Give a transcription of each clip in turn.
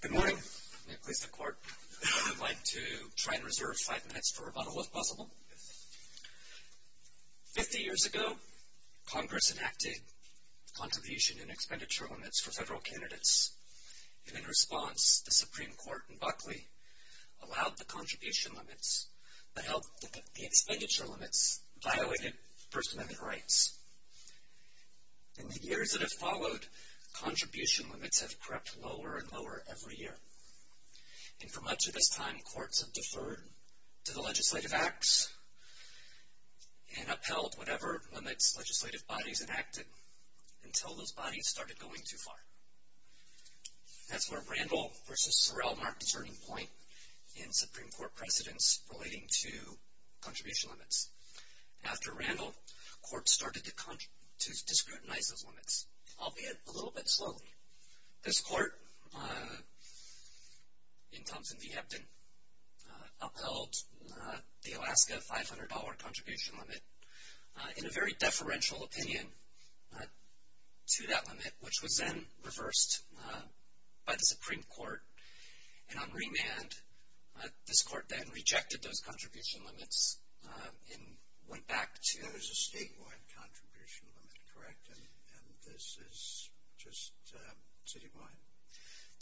Good morning. May it please the Court, I'd like to try and reserve five minutes for rebuttal if possible. Fifty years ago, Congress enacted contribution and expenditure limits for federal candidates, and in response, the Supreme Court in Buckley allowed the contribution limits, but held that the expenditure limits violated First Amendment rights. In the years that have followed, contribution limits have crept lower and lower every year. And for much of this time, courts have deferred to the legislative acts and upheld whatever limits legislative bodies enacted until those bodies started going too far. That's where Randall v. Sorrell marked a turning point in Supreme Court precedents relating to contribution limits. After Randall, courts started to discriminate those limits, albeit a little bit slowly. This Court, in Thompson v. Hebden, upheld the Alaska $500 contribution limit in a very deferential opinion to that limit, which was then reversed by the Supreme Court. And on remand, this Court then rejected those contribution limits and went back to- That was a statewide contribution limit, correct? And this is just citywide?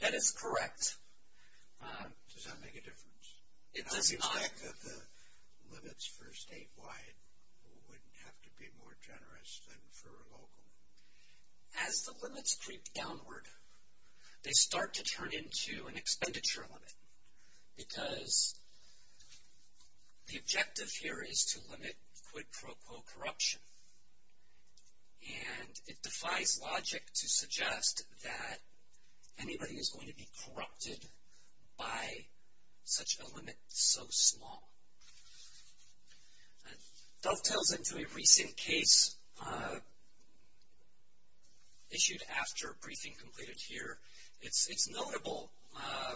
That is correct. Does that make a difference? It does not. How do you expect that the limits for statewide wouldn't have to be more generous than for local? As the limits creep downward, they start to turn into an expenditure limit because the objective here is to limit quid pro quo corruption. And it defies logic to suggest that anybody is going to be corrupted by such a limit so small. It dovetails into a recent case issued after a briefing completed here. It's notable.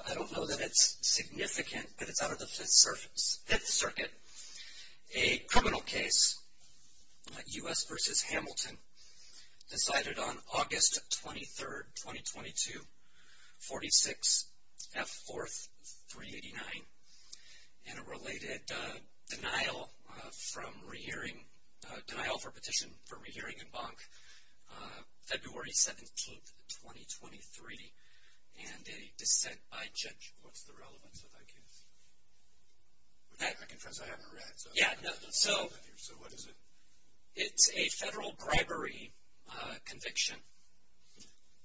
I don't know that it's significant, but it's out of the Fifth Circuit. A criminal case, U.S. v. Hamilton, decided on August 23, 2022, 46 F. 4th, 389, in a related denial for petition for rehearing in Banque, February 17, 2023, and a dissent by judge. What's the relevance of that case? I confess I haven't read. So what is it? It's a federal bribery conviction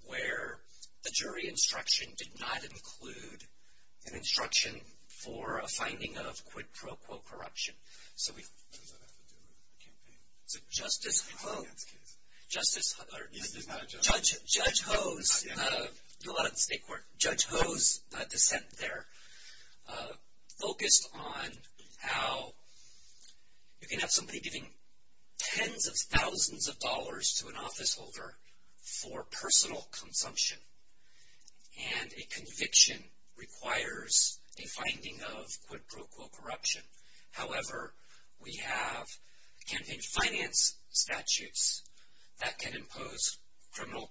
where the jury instruction did not include an instruction for a finding of quid pro quo corruption. Does that have to do with the campaign? It's a Justice Ho's dissent there focused on how you can have somebody giving tens of thousands of dollars to an officeholder for personal consumption, and a conviction requires a finding of quid pro quo corruption. However, we have campaign finance statutes that can impose criminal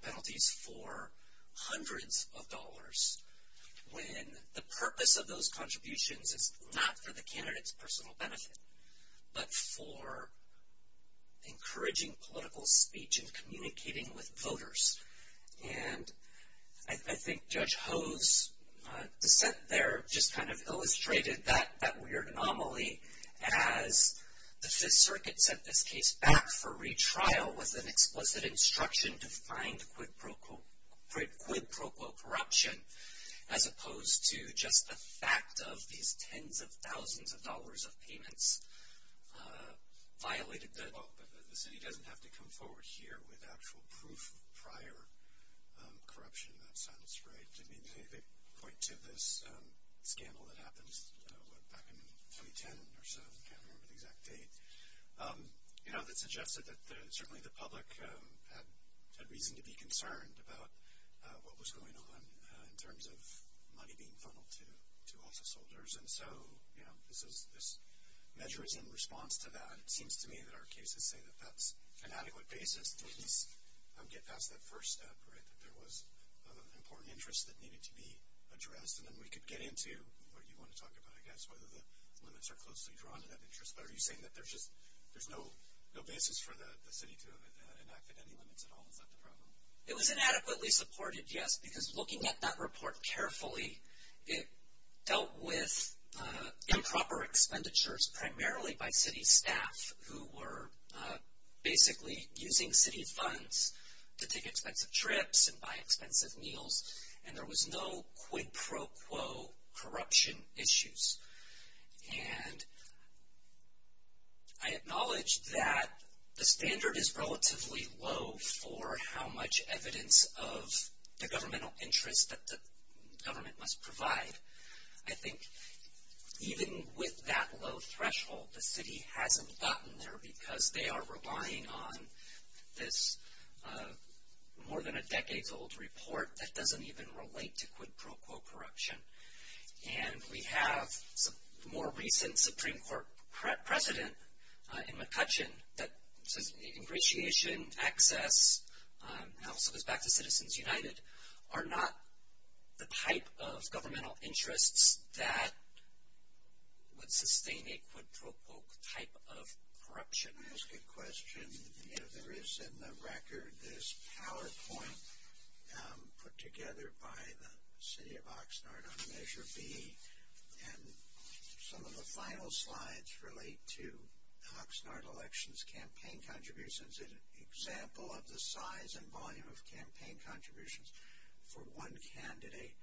penalties for hundreds of dollars when the purpose of those contributions is not for the candidate's personal benefit, but for encouraging political speech and communicating with voters. And I think Judge Ho's dissent there just kind of illustrated that weird anomaly as the Fifth Circuit sent this case back for retrial with an explicit instruction to find quid pro quo corruption, as opposed to just the fact of these tens of thousands of dollars of payments violated the law. But the city doesn't have to come forward here with actual proof of prior corruption in that sense, right? I mean, they point to this scandal that happened back in 2010 or so. I can't remember the exact date. You know, that suggested that certainly the public had reason to be concerned about what was going on in terms of money being funneled to officeholders. And so, you know, this measure is in response to that. And it seems to me that our cases say that that's an adequate basis to at least get past that first step, right? That there was an important interest that needed to be addressed, and then we could get into what you want to talk about, I guess, whether the limits are closely drawn to that interest. But are you saying that there's just no basis for the city to have enacted any limits at all? Is that the problem? It was inadequately supported, yes, because looking at that report carefully, it dealt with improper expenditures primarily by city staff, who were basically using city funds to take expensive trips and buy expensive meals. And there was no quid pro quo corruption issues. And I acknowledge that the standard is relatively low for how much evidence of the governmental interest that the government must provide. I think even with that low threshold, the city hasn't gotten there, because they are relying on this more than a decade's old report that doesn't even relate to quid pro quo corruption. And we have more recent Supreme Court precedent in McCutcheon that says, ingratiation, access, House of Respect to Citizens United, are not the type of governmental interests that would sustain a quid pro quo type of corruption. Let me ask a question. If there is in the record this PowerPoint put together by the city of Oxnard on Measure B, and some of the final slides relate to Oxnard elections campaign contributions, an example of the size and volume of campaign contributions for one candidate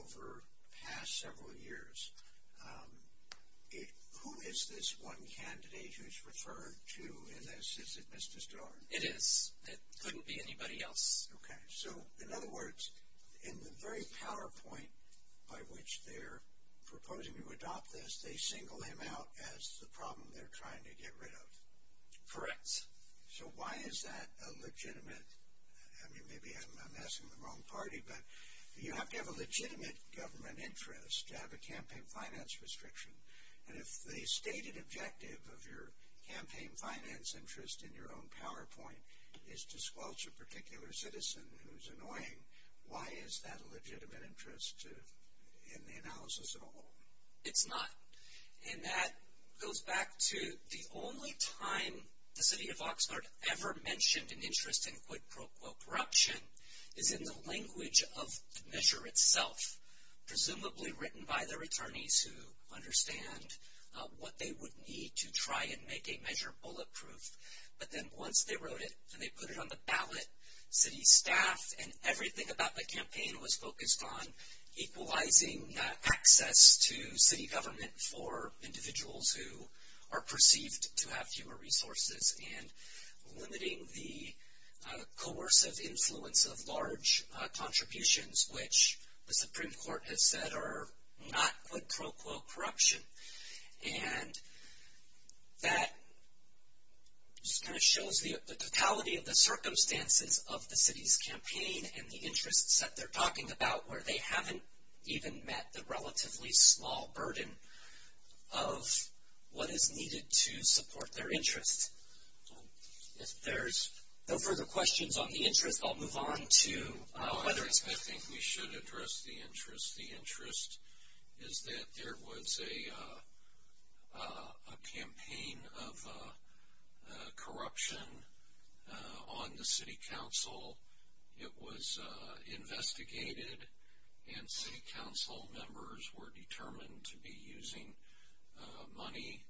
over the past several years. Who is this one candidate who is referred to in this? Is it Mr. Starr? It is. It couldn't be anybody else. Okay. So, in other words, in the very PowerPoint by which they're proposing to adopt this, they single him out as the problem they're trying to get rid of. Correct. So, why is that a legitimate? Maybe I'm asking the wrong party, but you have to have a legitimate government interest to have a campaign finance restriction. And if the stated objective of your campaign finance interest in your own PowerPoint is to squelch a particular citizen who's annoying, why is that a legitimate interest in the analysis at all? It's not. And that goes back to the only time the city of Oxnard ever mentioned an interest in quid pro quo corruption is in the language of the measure itself, presumably written by their attorneys who understand what they would need to try and make a measure bulletproof. But then once they wrote it and they put it on the ballot, city staff and everything about the campaign was focused on equalizing access to city government for individuals who are perceived to have fewer resources and limiting the coercive influence of large contributions, which the Supreme Court has said are not quid pro quo corruption. And that just kind of shows the totality of the circumstances of the city's campaign and the interests that they're talking about where they haven't even met the relatively small burden of what is needed to support their interest. If there's no further questions on the interest, I'll move on to whether it's... I think we should address the interest. The interest is that there was a campaign of corruption on the city council. It was investigated, and city council members were determined to be using money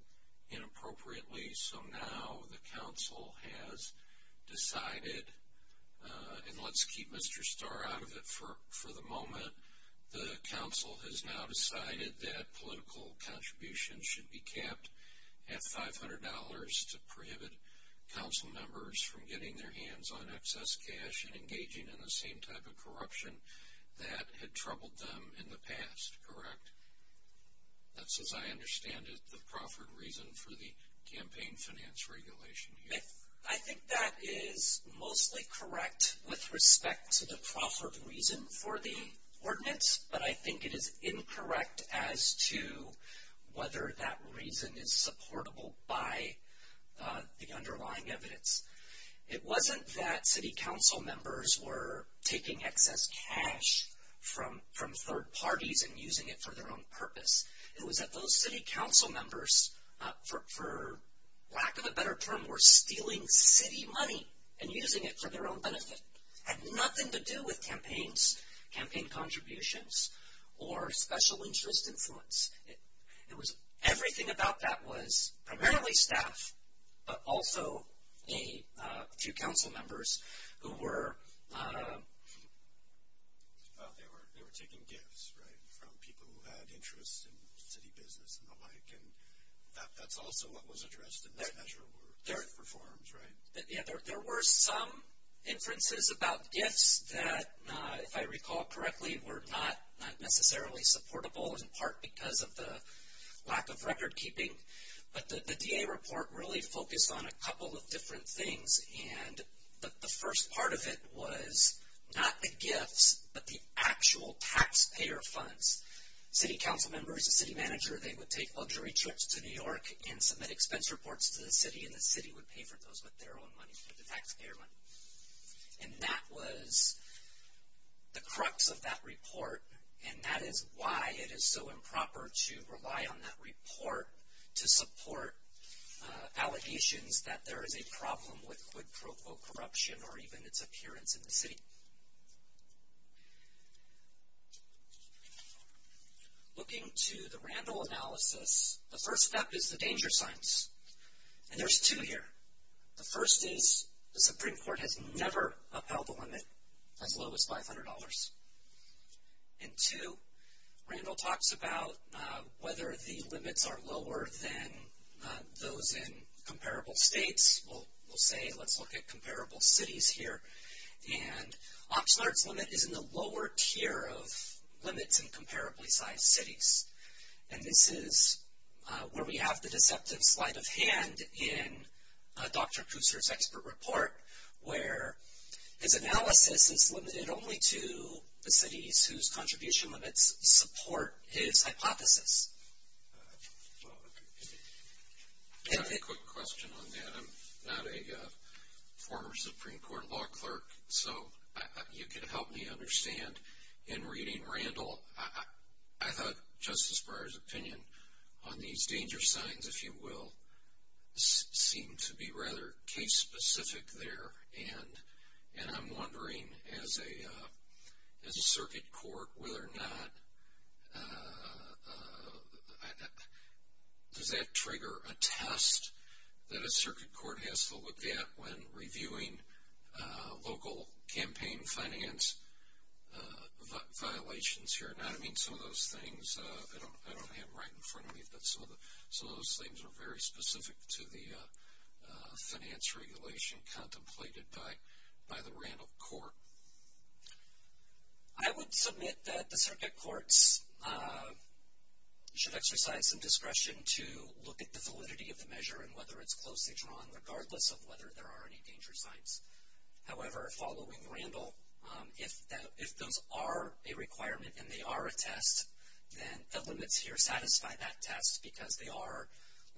inappropriately. So now the council has decided, and let's keep Mr. Starr out of it for the moment, the council has now decided that political contributions should be kept at $500 to prohibit council members from getting their hands on excess cash and engaging in the same type of corruption that had troubled them in the past, correct? That's, as I understand it, the proffered reason for the campaign finance regulation here. I think that is mostly correct with respect to the proffered reason for the ordinance, but I think it is incorrect as to whether that reason is supportable by the underlying evidence. It wasn't that city council members were taking excess cash from third parties and using it for their own purpose. It was that those city council members, for lack of a better term, were stealing city money and using it for their own benefit. It had nothing to do with campaigns, campaign contributions, or special interest influence. Everything about that was primarily staff, but also a few council members who were... They were taking gifts, right, from people who had interests in city business and the like, and that's also what was addressed in this measure were gift reforms, right? Yeah, there were some inferences about gifts that, if I recall correctly, were not necessarily supportable in part because of the lack of record keeping, but the DA report really focused on a couple of different things, and the first part of it was not the gifts, but the actual taxpayer funds. City council members, the city manager, they would take luxury trips to New York and submit expense reports to the city, and the city would pay for those with their own money, with the taxpayer money. And that was the crux of that report, and that is why it is so improper to rely on that report to support allegations that there is a problem with quid pro quo corruption or even its appearance in the city. Looking to the Randall analysis, the first step is the danger signs, and there's two here. The first is the Supreme Court has never upheld the limit as low as $500, and two, Randall talks about whether the limits are lower than those in comparable states. We'll say let's look at comparable cities here, and Oxnard's limit is in the lower tier of limits in comparably sized cities, and this is where we have the deceptive sleight of hand in Dr. Kusser's expert report where his analysis is limited only to the cities whose contribution limits support his hypothesis. I have a quick question on that. I'm not a former Supreme Court law clerk, so you can help me understand. In reading Randall, I thought Justice Breyer's opinion on these danger signs, if you will, seemed to be rather case-specific there, and I'm wondering as a circuit court whether or not does that trigger a test that a circuit court has to look at when reviewing local campaign finance violations here. And I don't mean some of those things. I don't have them right in front of me, but some of those things are very specific to the finance regulation contemplated by the Randall court. I would submit that the circuit courts should exercise some discretion to look at the validity of the measure and whether it's closely drawn, regardless of whether there are any danger signs. However, following Randall, if those are a requirement and they are a test, then the limits here satisfy that test because they are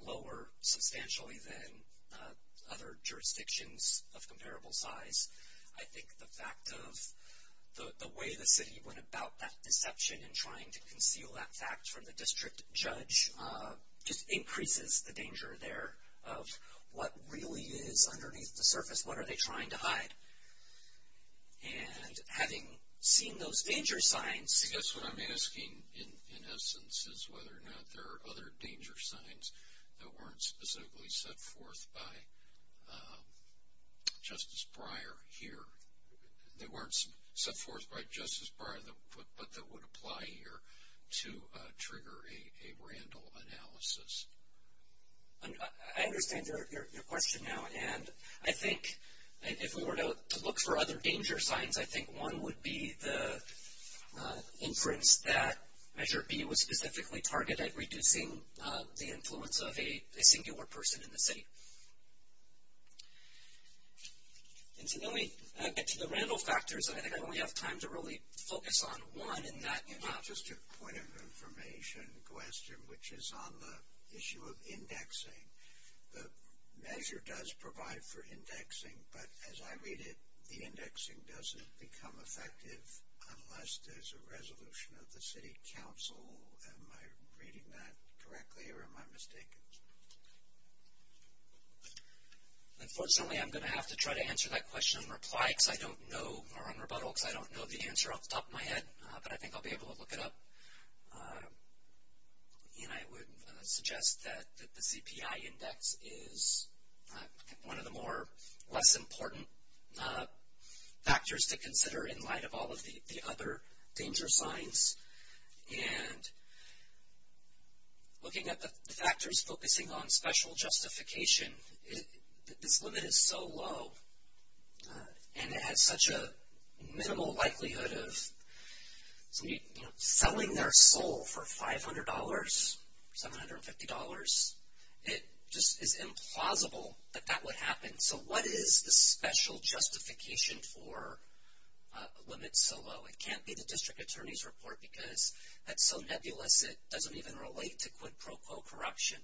lower substantially than other jurisdictions of comparable size. I think the fact of the way the city went about that deception and trying to conceal that fact from the district judge just increases the danger there of what really is underneath the surface, what are they trying to hide. And having seen those danger signs. I guess what I'm asking in essence is whether or not there are other danger signs that weren't specifically set forth by Justice Breyer here, that weren't set forth by Justice Breyer but that would apply here to trigger a Randall analysis. I understand your question now. And I think if we were to look for other danger signs, I think one would be the inference that Measure B was specifically targeted at reducing the influence of a singular person in the city. And to get to the Randall factors, I think I only have time to really focus on one. Just a point of information question, which is on the issue of indexing. The measure does provide for indexing, but as I read it, the indexing doesn't become effective unless there's a resolution of the city council. Am I reading that correctly or am I mistaken? Unfortunately, I'm going to have to try to answer that question on rebuttal because I don't know the answer off the top of my head, but I think I'll be able to look it up. And I would suggest that the CPI index is one of the less important factors to consider in light of all of the other danger signs. Looking at the factors focusing on special justification, this limit is so low, and it has such a minimal likelihood of selling their soul for $500, $750. It just is implausible that that would happen. So what is the special justification for a limit so low? It can't be the district attorney's report because that's so nebulous, it doesn't even relate to quid pro quo corruption.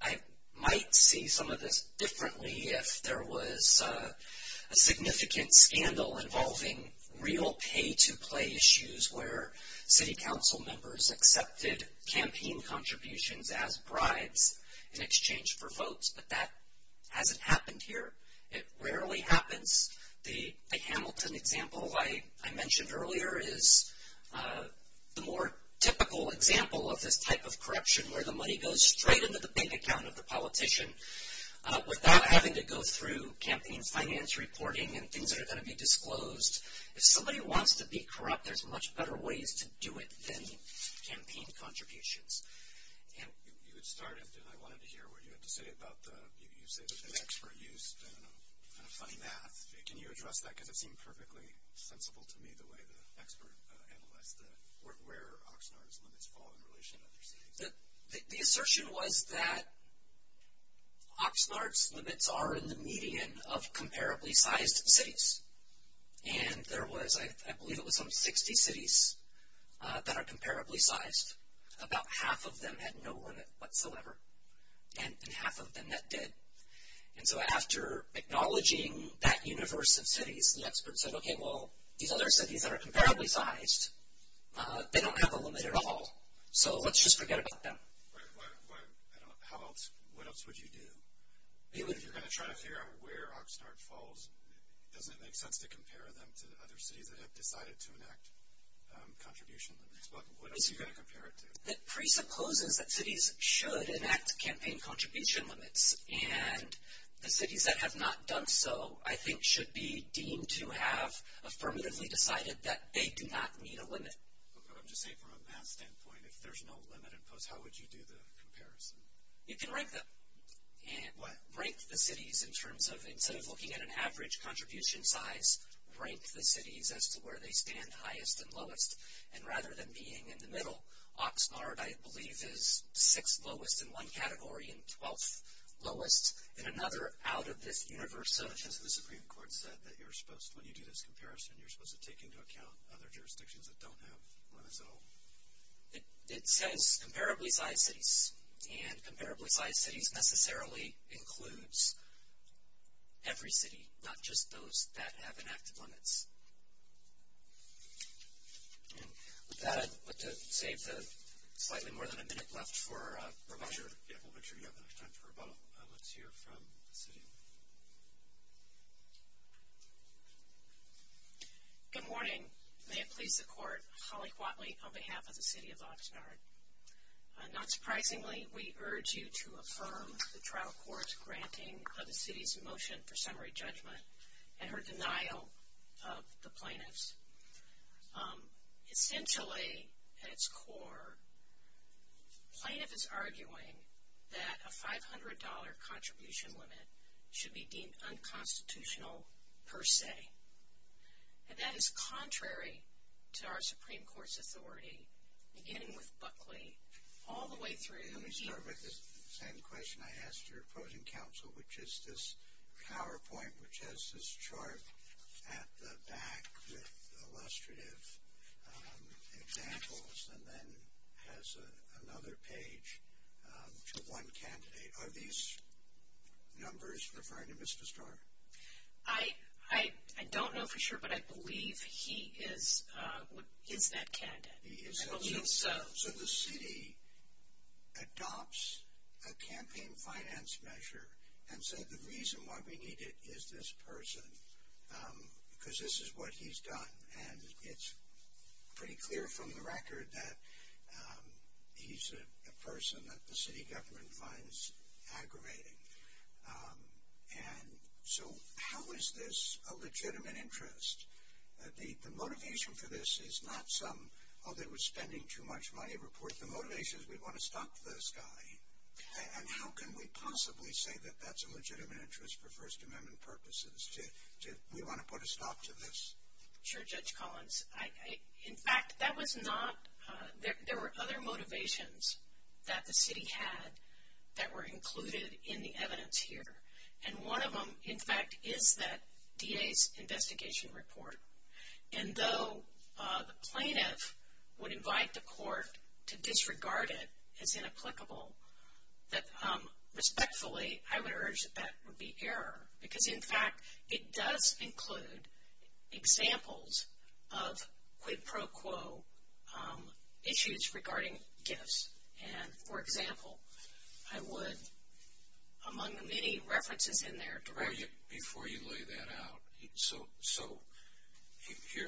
I might see some of this differently if there was a significant scandal involving real pay-to-play issues where city council members accepted campaign contributions as bribes in exchange for votes, but that hasn't happened here. It rarely happens. The Hamilton example I mentioned earlier is the more typical example of this type of corruption where the money goes straight into the bank account of the politician without having to go through campaign finance reporting and things that are going to be disclosed. If somebody wants to be corrupt, there's much better ways to do it than campaign contributions. You had started, and I wanted to hear what you had to say about the expert use of funny math. Can you address that? Because it seemed perfectly sensible to me the way the expert analyzed where Oxnard's limits fall in relation to other cities. The assertion was that Oxnard's limits are in the median of comparably sized cities, and there was, I believe it was some 60 cities that are comparably sized. About half of them had no limit whatsoever, and half of them that did. And so after acknowledging that universe of cities, the expert said, okay, well, these other cities that are comparably sized, they don't have a limit at all, so let's just forget about them. How else, what else would you do? If you're going to try to figure out where Oxnard falls, doesn't it make sense to compare them to other cities that have decided to enact contribution limits? What else are you going to compare it to? It presupposes that cities should enact campaign contribution limits, and the cities that have not done so, I think, should be deemed to have affirmatively decided that they do not need a limit. I'm just saying from a math standpoint, if there's no limit imposed, how would you do the comparison? You can rank them. What? Rank the cities in terms of, instead of looking at an average contribution size, rank the cities as to where they stand highest and lowest. And rather than being in the middle, Oxnard, I believe, is sixth lowest in one category and twelfth lowest in another out of this universe. Has the Supreme Court said that you're supposed, when you do this comparison, you're supposed to take into account other jurisdictions that don't have limits at all? It says comparably sized cities, and comparably sized cities necessarily includes every city, not just those that have enacted limits. With that, I'd like to save the slightly more than a minute left for Roboto. Yeah, we'll make sure you have enough time for Roboto. Let's hear from the city. Good morning. May it please the court, Holly Quatley on behalf of the city of Oxnard. Not surprisingly, we urge you to affirm the trial court's granting of the city's motion for summary judgment and her denial of the plaintiffs. Essentially, at its core, plaintiff is arguing that a $500 contribution limit should be deemed unconstitutional per se. And that is contrary to our Supreme Court's authority, beginning with Buckley, all the way through here. Let me start with the same question I asked your opposing counsel, which is this PowerPoint which has this chart at the back with illustrative examples and then has another page to one candidate. Are these numbers referring to Mr. Starr? I don't know for sure, but I believe he is that candidate. I believe so. So the city adopts a campaign finance measure and said the reason why we need it is this person, because this is what he's done. And it's pretty clear from the record that he's a person that the city government finds aggravating. And so how is this a legitimate interest? The motivation for this is not some, oh, they were spending too much money report. The motivation is we want to stop this guy. And how can we possibly say that that's a legitimate interest for First Amendment purposes, to we want to put a stop to this? Sure, Judge Collins. In fact, that was not, there were other motivations that the city had that were included in the evidence here. And one of them, in fact, is that DA's investigation report. And though the plaintiff would invite the court to disregard it as inapplicable, that respectfully I would urge that that would be error. Because, in fact, it does include examples of quid pro quo issues regarding gifts. And, for example, I would, among the many references in there. Before you lay that out, so here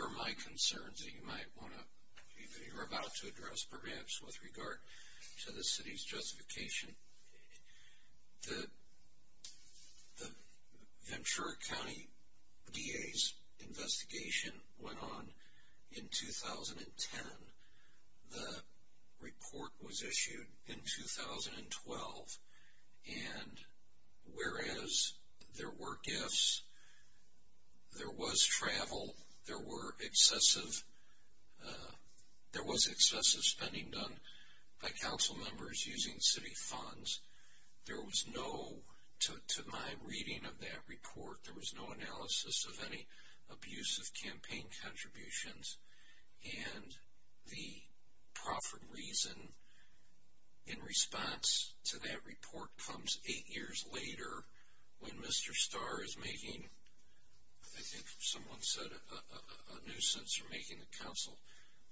are my concerns that you might want to, that you're about to address perhaps with regard to the city's justification. The Ventura County DA's investigation went on in 2010. The report was issued in 2012. And whereas there were gifts, there was travel, there were excessive, there was excessive spending done by council members using city funds. There was no, to my reading of that report, there was no analysis of any abusive campaign contributions. And the profit reason in response to that report comes eight years later when Mr. Starr is making, I think someone said a nuisance, or making the council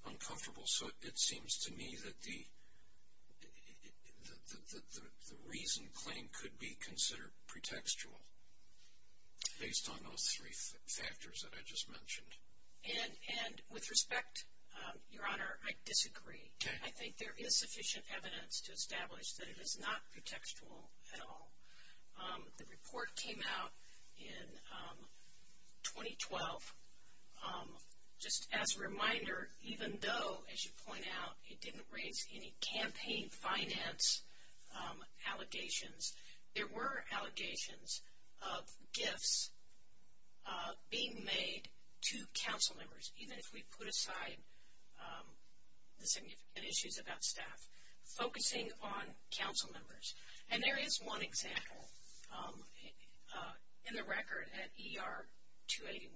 uncomfortable. So it seems to me that the reason claim could be considered pretextual, based on those three factors that I just mentioned. And with respect, Your Honor, I disagree. I think there is sufficient evidence to establish that it is not pretextual at all. The report came out in 2012. Just as a reminder, even though, as you point out, it didn't raise any campaign finance allegations, there were allegations of gifts being made to council members, even if we put aside the significant issues about staff, focusing on council members. And there is one example in the record at ER 281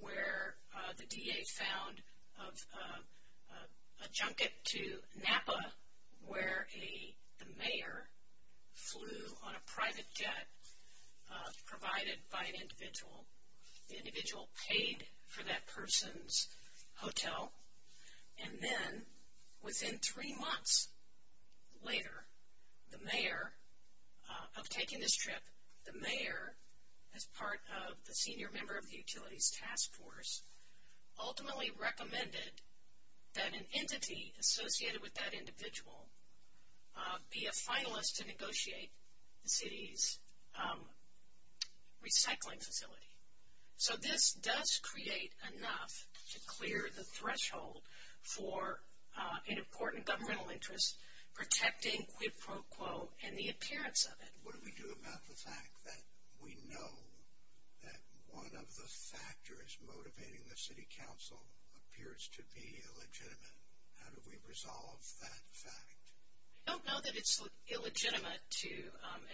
where the DA found a junket to Napa where the mayor flew on a private jet provided by an individual. The individual paid for that person's hotel. And then within three months later, the mayor, of taking this trip, the mayor, as part of the senior member of the utilities task force, ultimately recommended that an entity associated with that individual be a finalist to negotiate the city's recycling facility. So this does create enough to clear the threshold for an important governmental interest, protecting quid pro quo and the appearance of it. What do we do about the fact that we know that one of the factors motivating the city council appears to be illegitimate? How do we resolve that fact? I don't know that it's illegitimate to,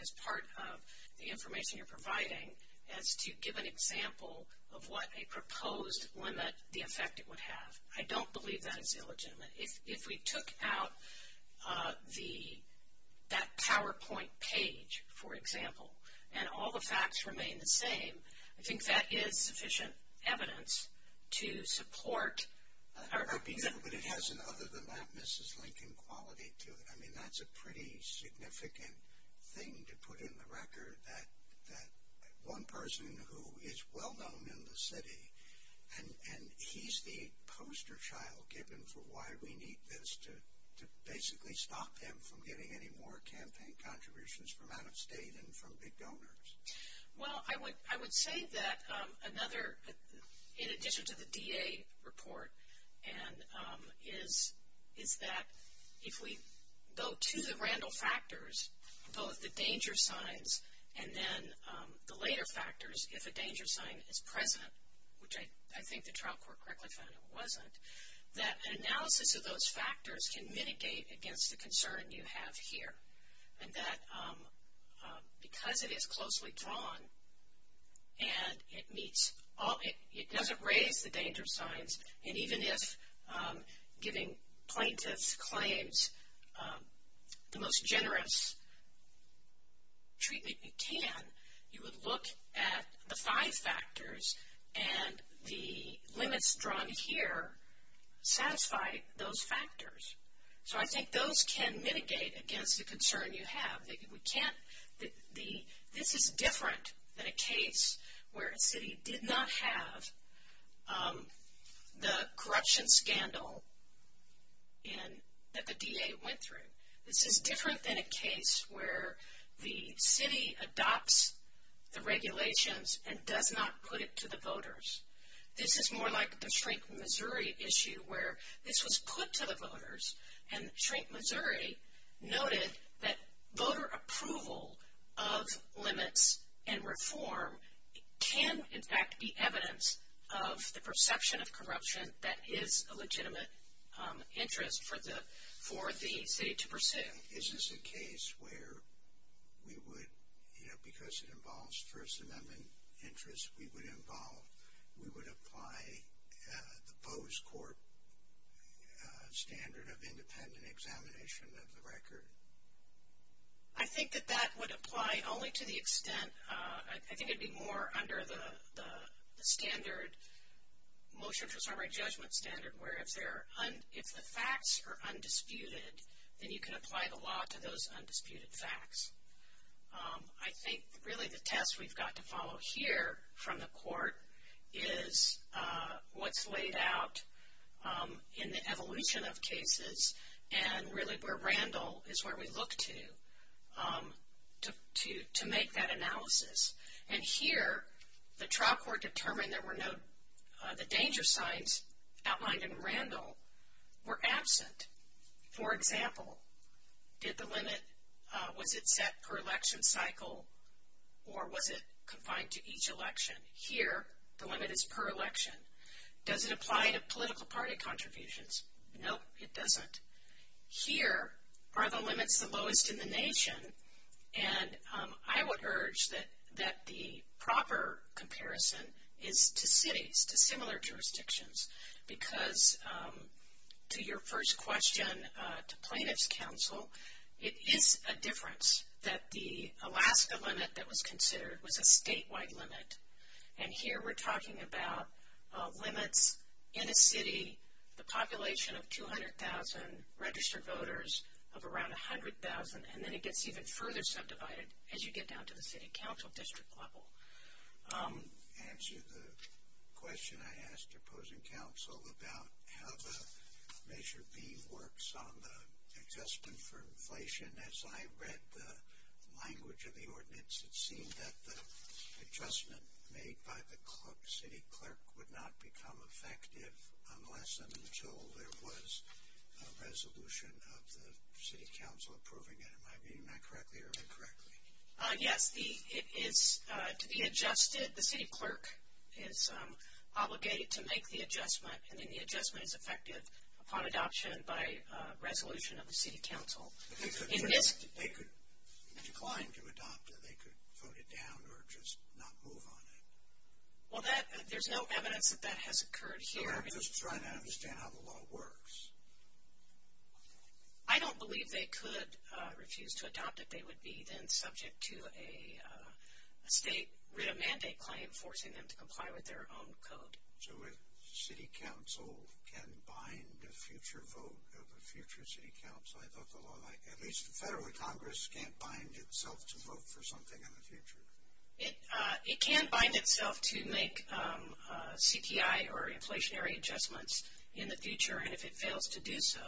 as part of the information you're providing, as to give an example of what a proposed limit, the effect it would have. I don't believe that is illegitimate. If we took out that PowerPoint page, for example, and all the facts remain the same, I think that is sufficient evidence to support. But it has an other-than-that Mrs. Lincoln quality to it. I mean, that's a pretty significant thing to put in the record, that one person who is well-known in the city, and he's the poster child given for why we need this to basically stop him from getting any more campaign contributions from out of state and from big donors. Well, I would say that another, in addition to the DA report, is that if we go to the Randall factors, both the danger signs and then the later factors, if a danger sign is present, which I think the trial court correctly found it wasn't, that an analysis of those factors can mitigate against the concern you have here. And that because it is closely drawn and it doesn't raise the danger signs, and even if giving plaintiffs' claims the most generous treatment you can, you would look at the five factors and the limits drawn here satisfy those factors. So I think those can mitigate against the concern you have. This is different than a case where a city did not have the corruption scandal that the DA went through. This is different than a case where the city adopts the regulations and does not put it to the voters. This is more like the Shrink Missouri issue where this was put to the voters and Shrink Missouri noted that voter approval of limits and reform can in fact be evidence of the perception of corruption that is a legitimate interest for the city to pursue. Is this a case where we would, you know, because it involves First Amendment interests, we would involve, we would apply the Bose Corp standard of independent examination of the record? I think that that would apply only to the extent, I think it would be more under the standard, motion for summary judgment standard where if the facts are undisputed, then you can apply the law to those undisputed facts. I think really the test we've got to follow here from the court is what's laid out in the evolution of cases and really where Randall is where we look to, to make that analysis. And here the trial court determined there were no, the danger signs outlined in Randall were absent. For example, did the limit, was it set per election cycle or was it confined to each election? Here the limit is per election. Does it apply to political party contributions? Nope, it doesn't. Here are the limits the lowest in the nation and I would urge that the proper comparison is to cities, to similar jurisdictions because to your first question, to plaintiff's counsel, it is a difference that the Alaska limit that was considered was a statewide limit and here we're talking about limits in a city, the population of 200,000 registered voters of around 100,000 and then it gets even further subdivided as you get down to the city council district level. To answer the question I asked your opposing counsel about how the Measure B works on the adjustment for inflation, as I read the language of the ordinance, it seemed that the adjustment made by the city clerk would not become effective unless and until there was a resolution of the city council approving it. Am I reading that correctly or incorrectly? Yes, it is to be adjusted. The city clerk is obligated to make the adjustment and then the adjustment is effective upon adoption by resolution of the city council. If they declined to adopt it, they could vote it down or just not move on it? Well, there's no evidence that that has occurred here. I'm just trying to understand how the law works. I don't believe they could refuse to adopt it. They would be then subject to a state writ of mandate claim forcing them to comply with their own code. So a city council can bind a future vote of a future city council? I thought the law, at least federally, Congress can't bind itself to vote for something in the future. It can bind itself to make CPI or inflationary adjustments in the future and if it fails to do so,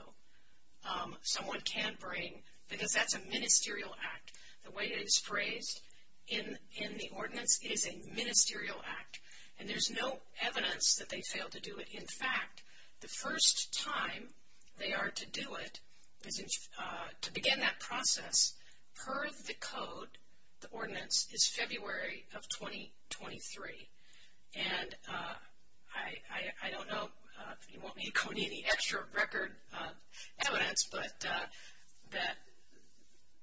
someone can bring, because that's a ministerial act. The way it is phrased in the ordinance is a ministerial act and there's no evidence that they failed to do it. In fact, the first time they are to do it, to begin that process, per the code, the ordinance, is February of 2023. And I don't know, you won't need to call me any extra record evidence, but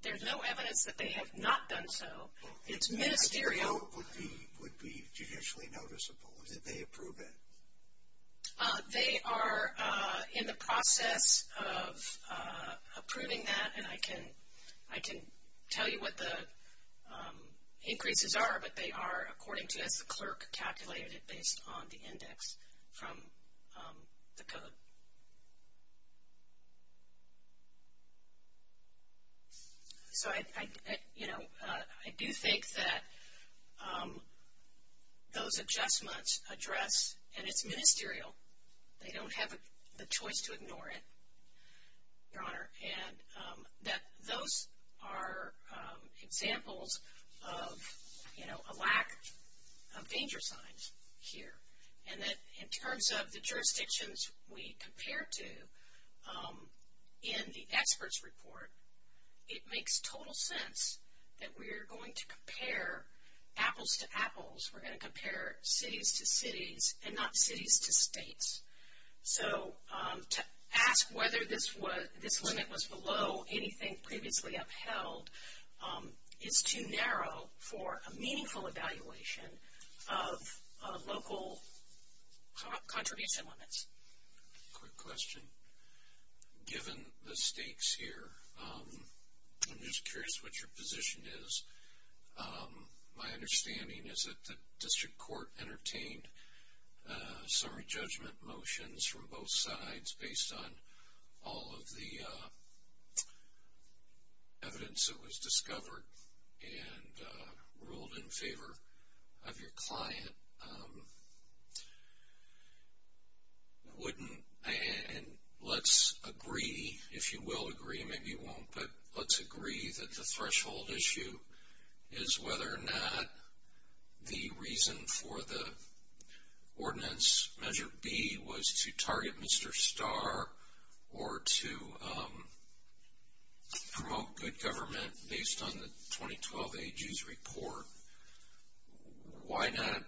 there's no evidence that they have not done so. It's ministerial. I know it would be judicially noticeable. Did they approve it? They are in the process of approving that and I can tell you what the increases are, but they are, according to us, the clerk calculated it based on the index from the code. So, you know, I do think that those adjustments address, and it's ministerial, they don't have the choice to ignore it, Your Honor, and that those are examples of, you know, a lack of danger signs here. And that in terms of the jurisdictions we compare to in the expert's report, it makes total sense that we are going to compare apples to apples. We're going to compare cities to cities and not cities to states. So to ask whether this limit was below anything previously upheld is too narrow for a meaningful evaluation of local contribution limits. Quick question. Given the stakes here, I'm just curious what your position is. My understanding is that the district court entertained summary judgment motions from both sides based on all of the evidence that was discovered and ruled in favor of your client. Wouldn't, and let's agree, if you will agree, maybe you won't, but let's agree that the threshold issue is whether or not the reason for the ordinance measure B was to target Mr. Starr or to promote good government based on the 2012 AG's report. Why not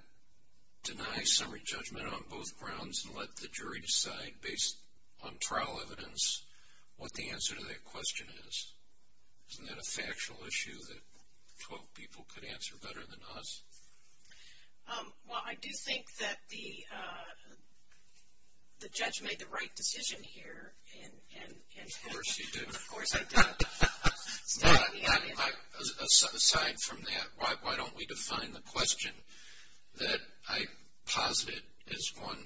deny summary judgment on both grounds and let the jury decide based on trial evidence what the answer to that question is? Isn't that a factual issue that 12 people could answer better than us? Well, I do think that the judge made the right decision here. Of course he did. Of course I did. Aside from that, why don't we define the question that I posited as one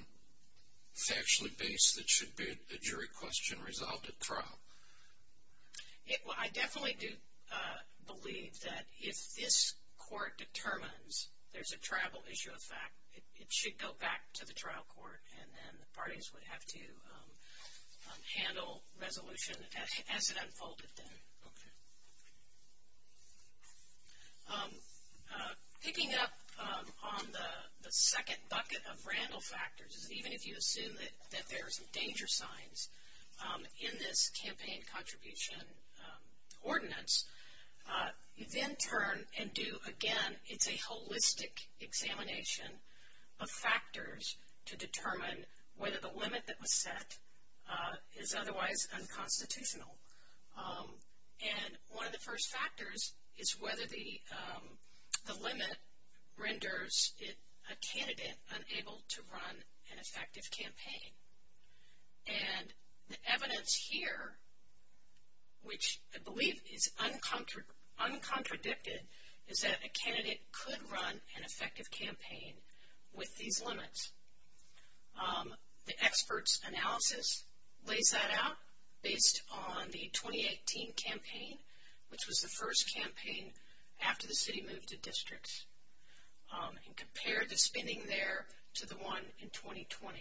factually based that should be a jury question resolved at trial? Well, I definitely do believe that if this court determines there's a tribal issue of fact, it should go back to the trial court and then the parties would have to handle resolution as it unfolded then. Okay. Picking up on the second bucket of randle factors, even if you assume that there are some danger signs in this campaign contribution ordinance, you then turn and do, again, it's a holistic examination of factors to determine whether the limit that was set is otherwise unconstitutional. And one of the first factors is whether the limit renders a candidate unable to run an effective campaign. And the evidence here, which I believe is uncontradicted, is that a candidate could run an effective campaign with these limits. The experts' analysis lays that out based on the 2018 campaign, which was the first campaign after the city moved to districts, and compared the spending there to the one in 2020.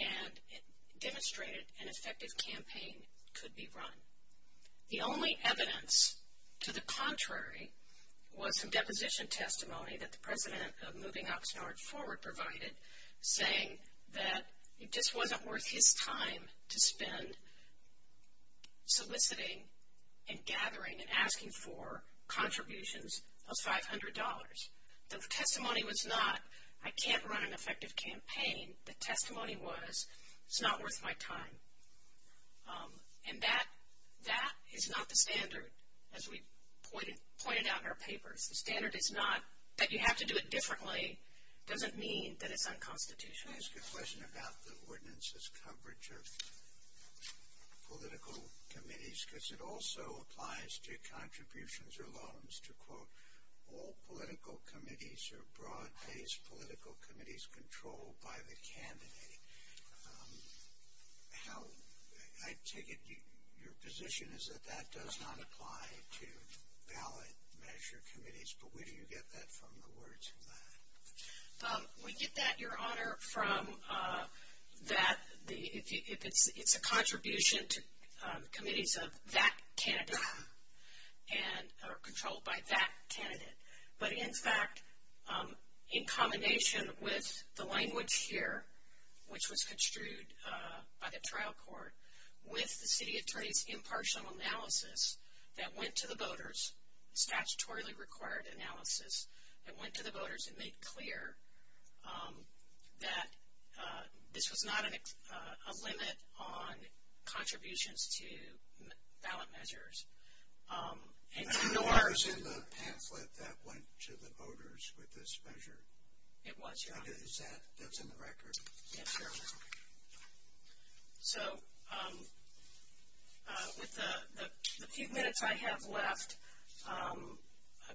And it demonstrated an effective campaign could be run. The only evidence to the contrary was some deposition testimony that the president of moving Oxnard forward provided saying that it just wasn't worth his time to spend soliciting and gathering and asking for contributions, those $500. The testimony was not, I can't run an effective campaign. The testimony was, it's not worth my time. And that is not the standard, as we pointed out in our papers. The standard is not that you have to do it differently doesn't mean that it's unconstitutional. I ask a question about the ordinance's coverage of political committees, because it also applies to contributions or loans to, quote, all political committees or broad-based political committees controlled by the candidate. How, I take it your position is that that does not apply to ballot measure committees, but where do you get that from, the words of that? We get that, Your Honor, from that, if it's a contribution to committees of that candidate, or controlled by that candidate. But, in fact, in combination with the language here, which was construed by the trial court, with the city attorney's impartial analysis that went to the voters, statutorily required analysis, that went to the voters and made clear that this was not a limit on contributions to ballot measures. I know I was in the pamphlet that went to the voters with this measure. It was, Your Honor. Is that, that's in the record? Yes, Your Honor. So, with the few minutes I have left,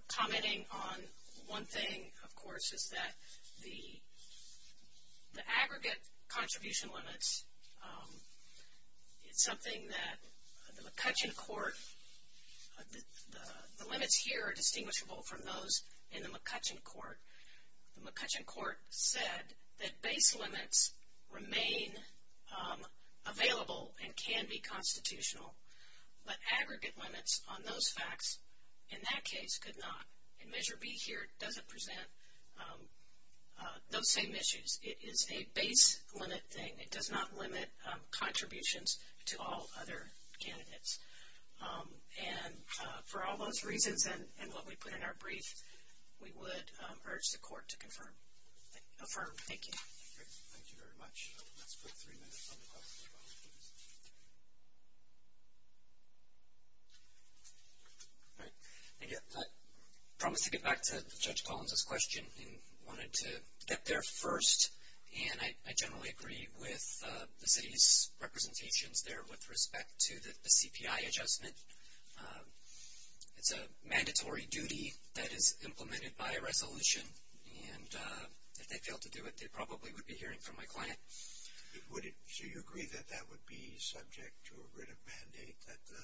commenting on one thing, of course, is that the aggregate contribution limits, it's something that the McCutcheon court, the limits here are distinguishable from those in the McCutcheon court. The McCutcheon court said that base limits remain available and can be constitutional, but aggregate limits on those facts, in that case, could not. And Measure B here doesn't present those same issues. It is a base limit thing. It does not limit contributions to all other candidates. And for all those reasons and what we put in our brief, we would urge the court to confirm, affirm. Thank you. Great. Thank you very much. Let's put three minutes on the clock, if that would please. All right. Thank you. I promised to get back to Judge Collins' question and wanted to get there first. And I generally agree with the city's representations there with respect to the CPI adjustment. It's a mandatory duty that is implemented by a resolution. And if they fail to do it, they probably would be hearing from my client. So you agree that that would be subject to a written mandate, that the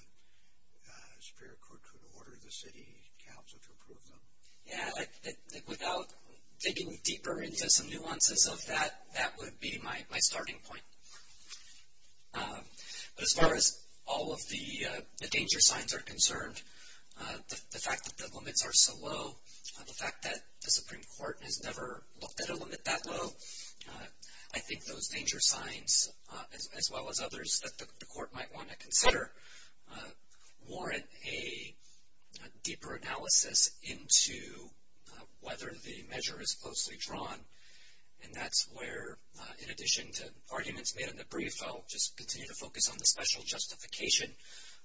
Superior Court could order the city council to approve them? Yeah, without digging deeper into some nuances of that, that would be my starting point. As far as all of the danger signs are concerned, the fact that the limits are so low, the fact that the Supreme Court has never looked at a limit that low, I think those danger signs, as well as others that the court might want to consider, warrant a deeper analysis into whether the measure is closely drawn. And that's where, in addition to arguments made in the brief, I'll just continue to focus on the special justification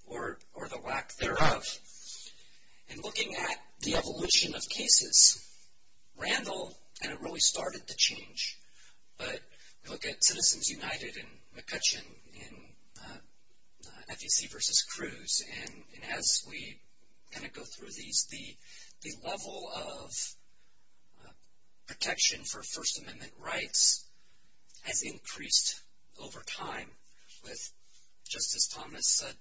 or the lack thereof. In looking at the evolution of cases, Randall kind of really started the change. But look at Citizens United and McCutcheon in FEC versus Cruz. And as we kind of go through these, the level of protection for First Amendment rights has increased over time with, just as Thomas said,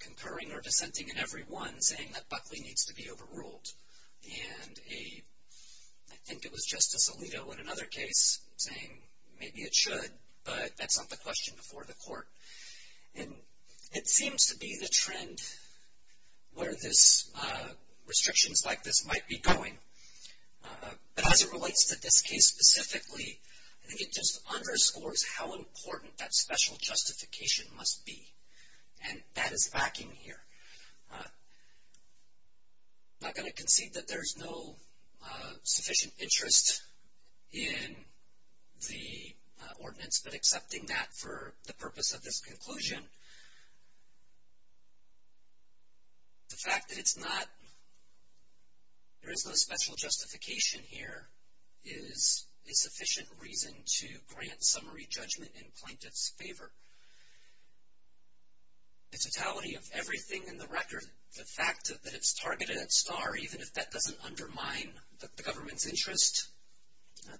concurring or dissenting in every one saying that Buckley needs to be overruled. And I think it was Justice Alito in another case saying maybe it should, but that's not the question before the court. And it seems to be the trend where restrictions like this might be going. But as it relates to this case specifically, I think it just underscores how important that special justification must be. And that is lacking here. I'm not going to concede that there's no sufficient interest in the ordinance, but accepting that for the purpose of this conclusion, the fact that there is no special justification here is a sufficient reason to grant summary judgment in plaintiff's favor. The totality of everything in the record, the fact that it's targeted at STAR, even if that doesn't undermine the government's interest,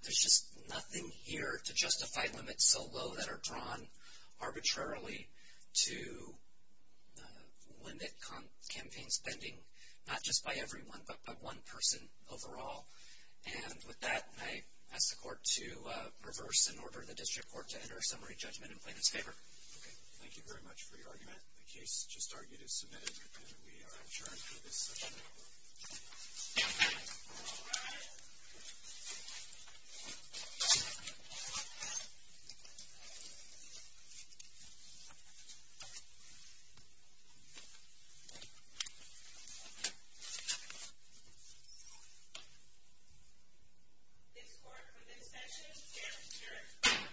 there's just nothing here to justify limits so low that are drawn arbitrarily to limit campaign spending, not just by everyone, but by one person overall. And with that, I ask the court to reverse and order the district court to enter a summary judgment in plaintiff's favor. Thank you very much for your argument. The case just argued is submitted, and we are adjourned for this session. Thank you.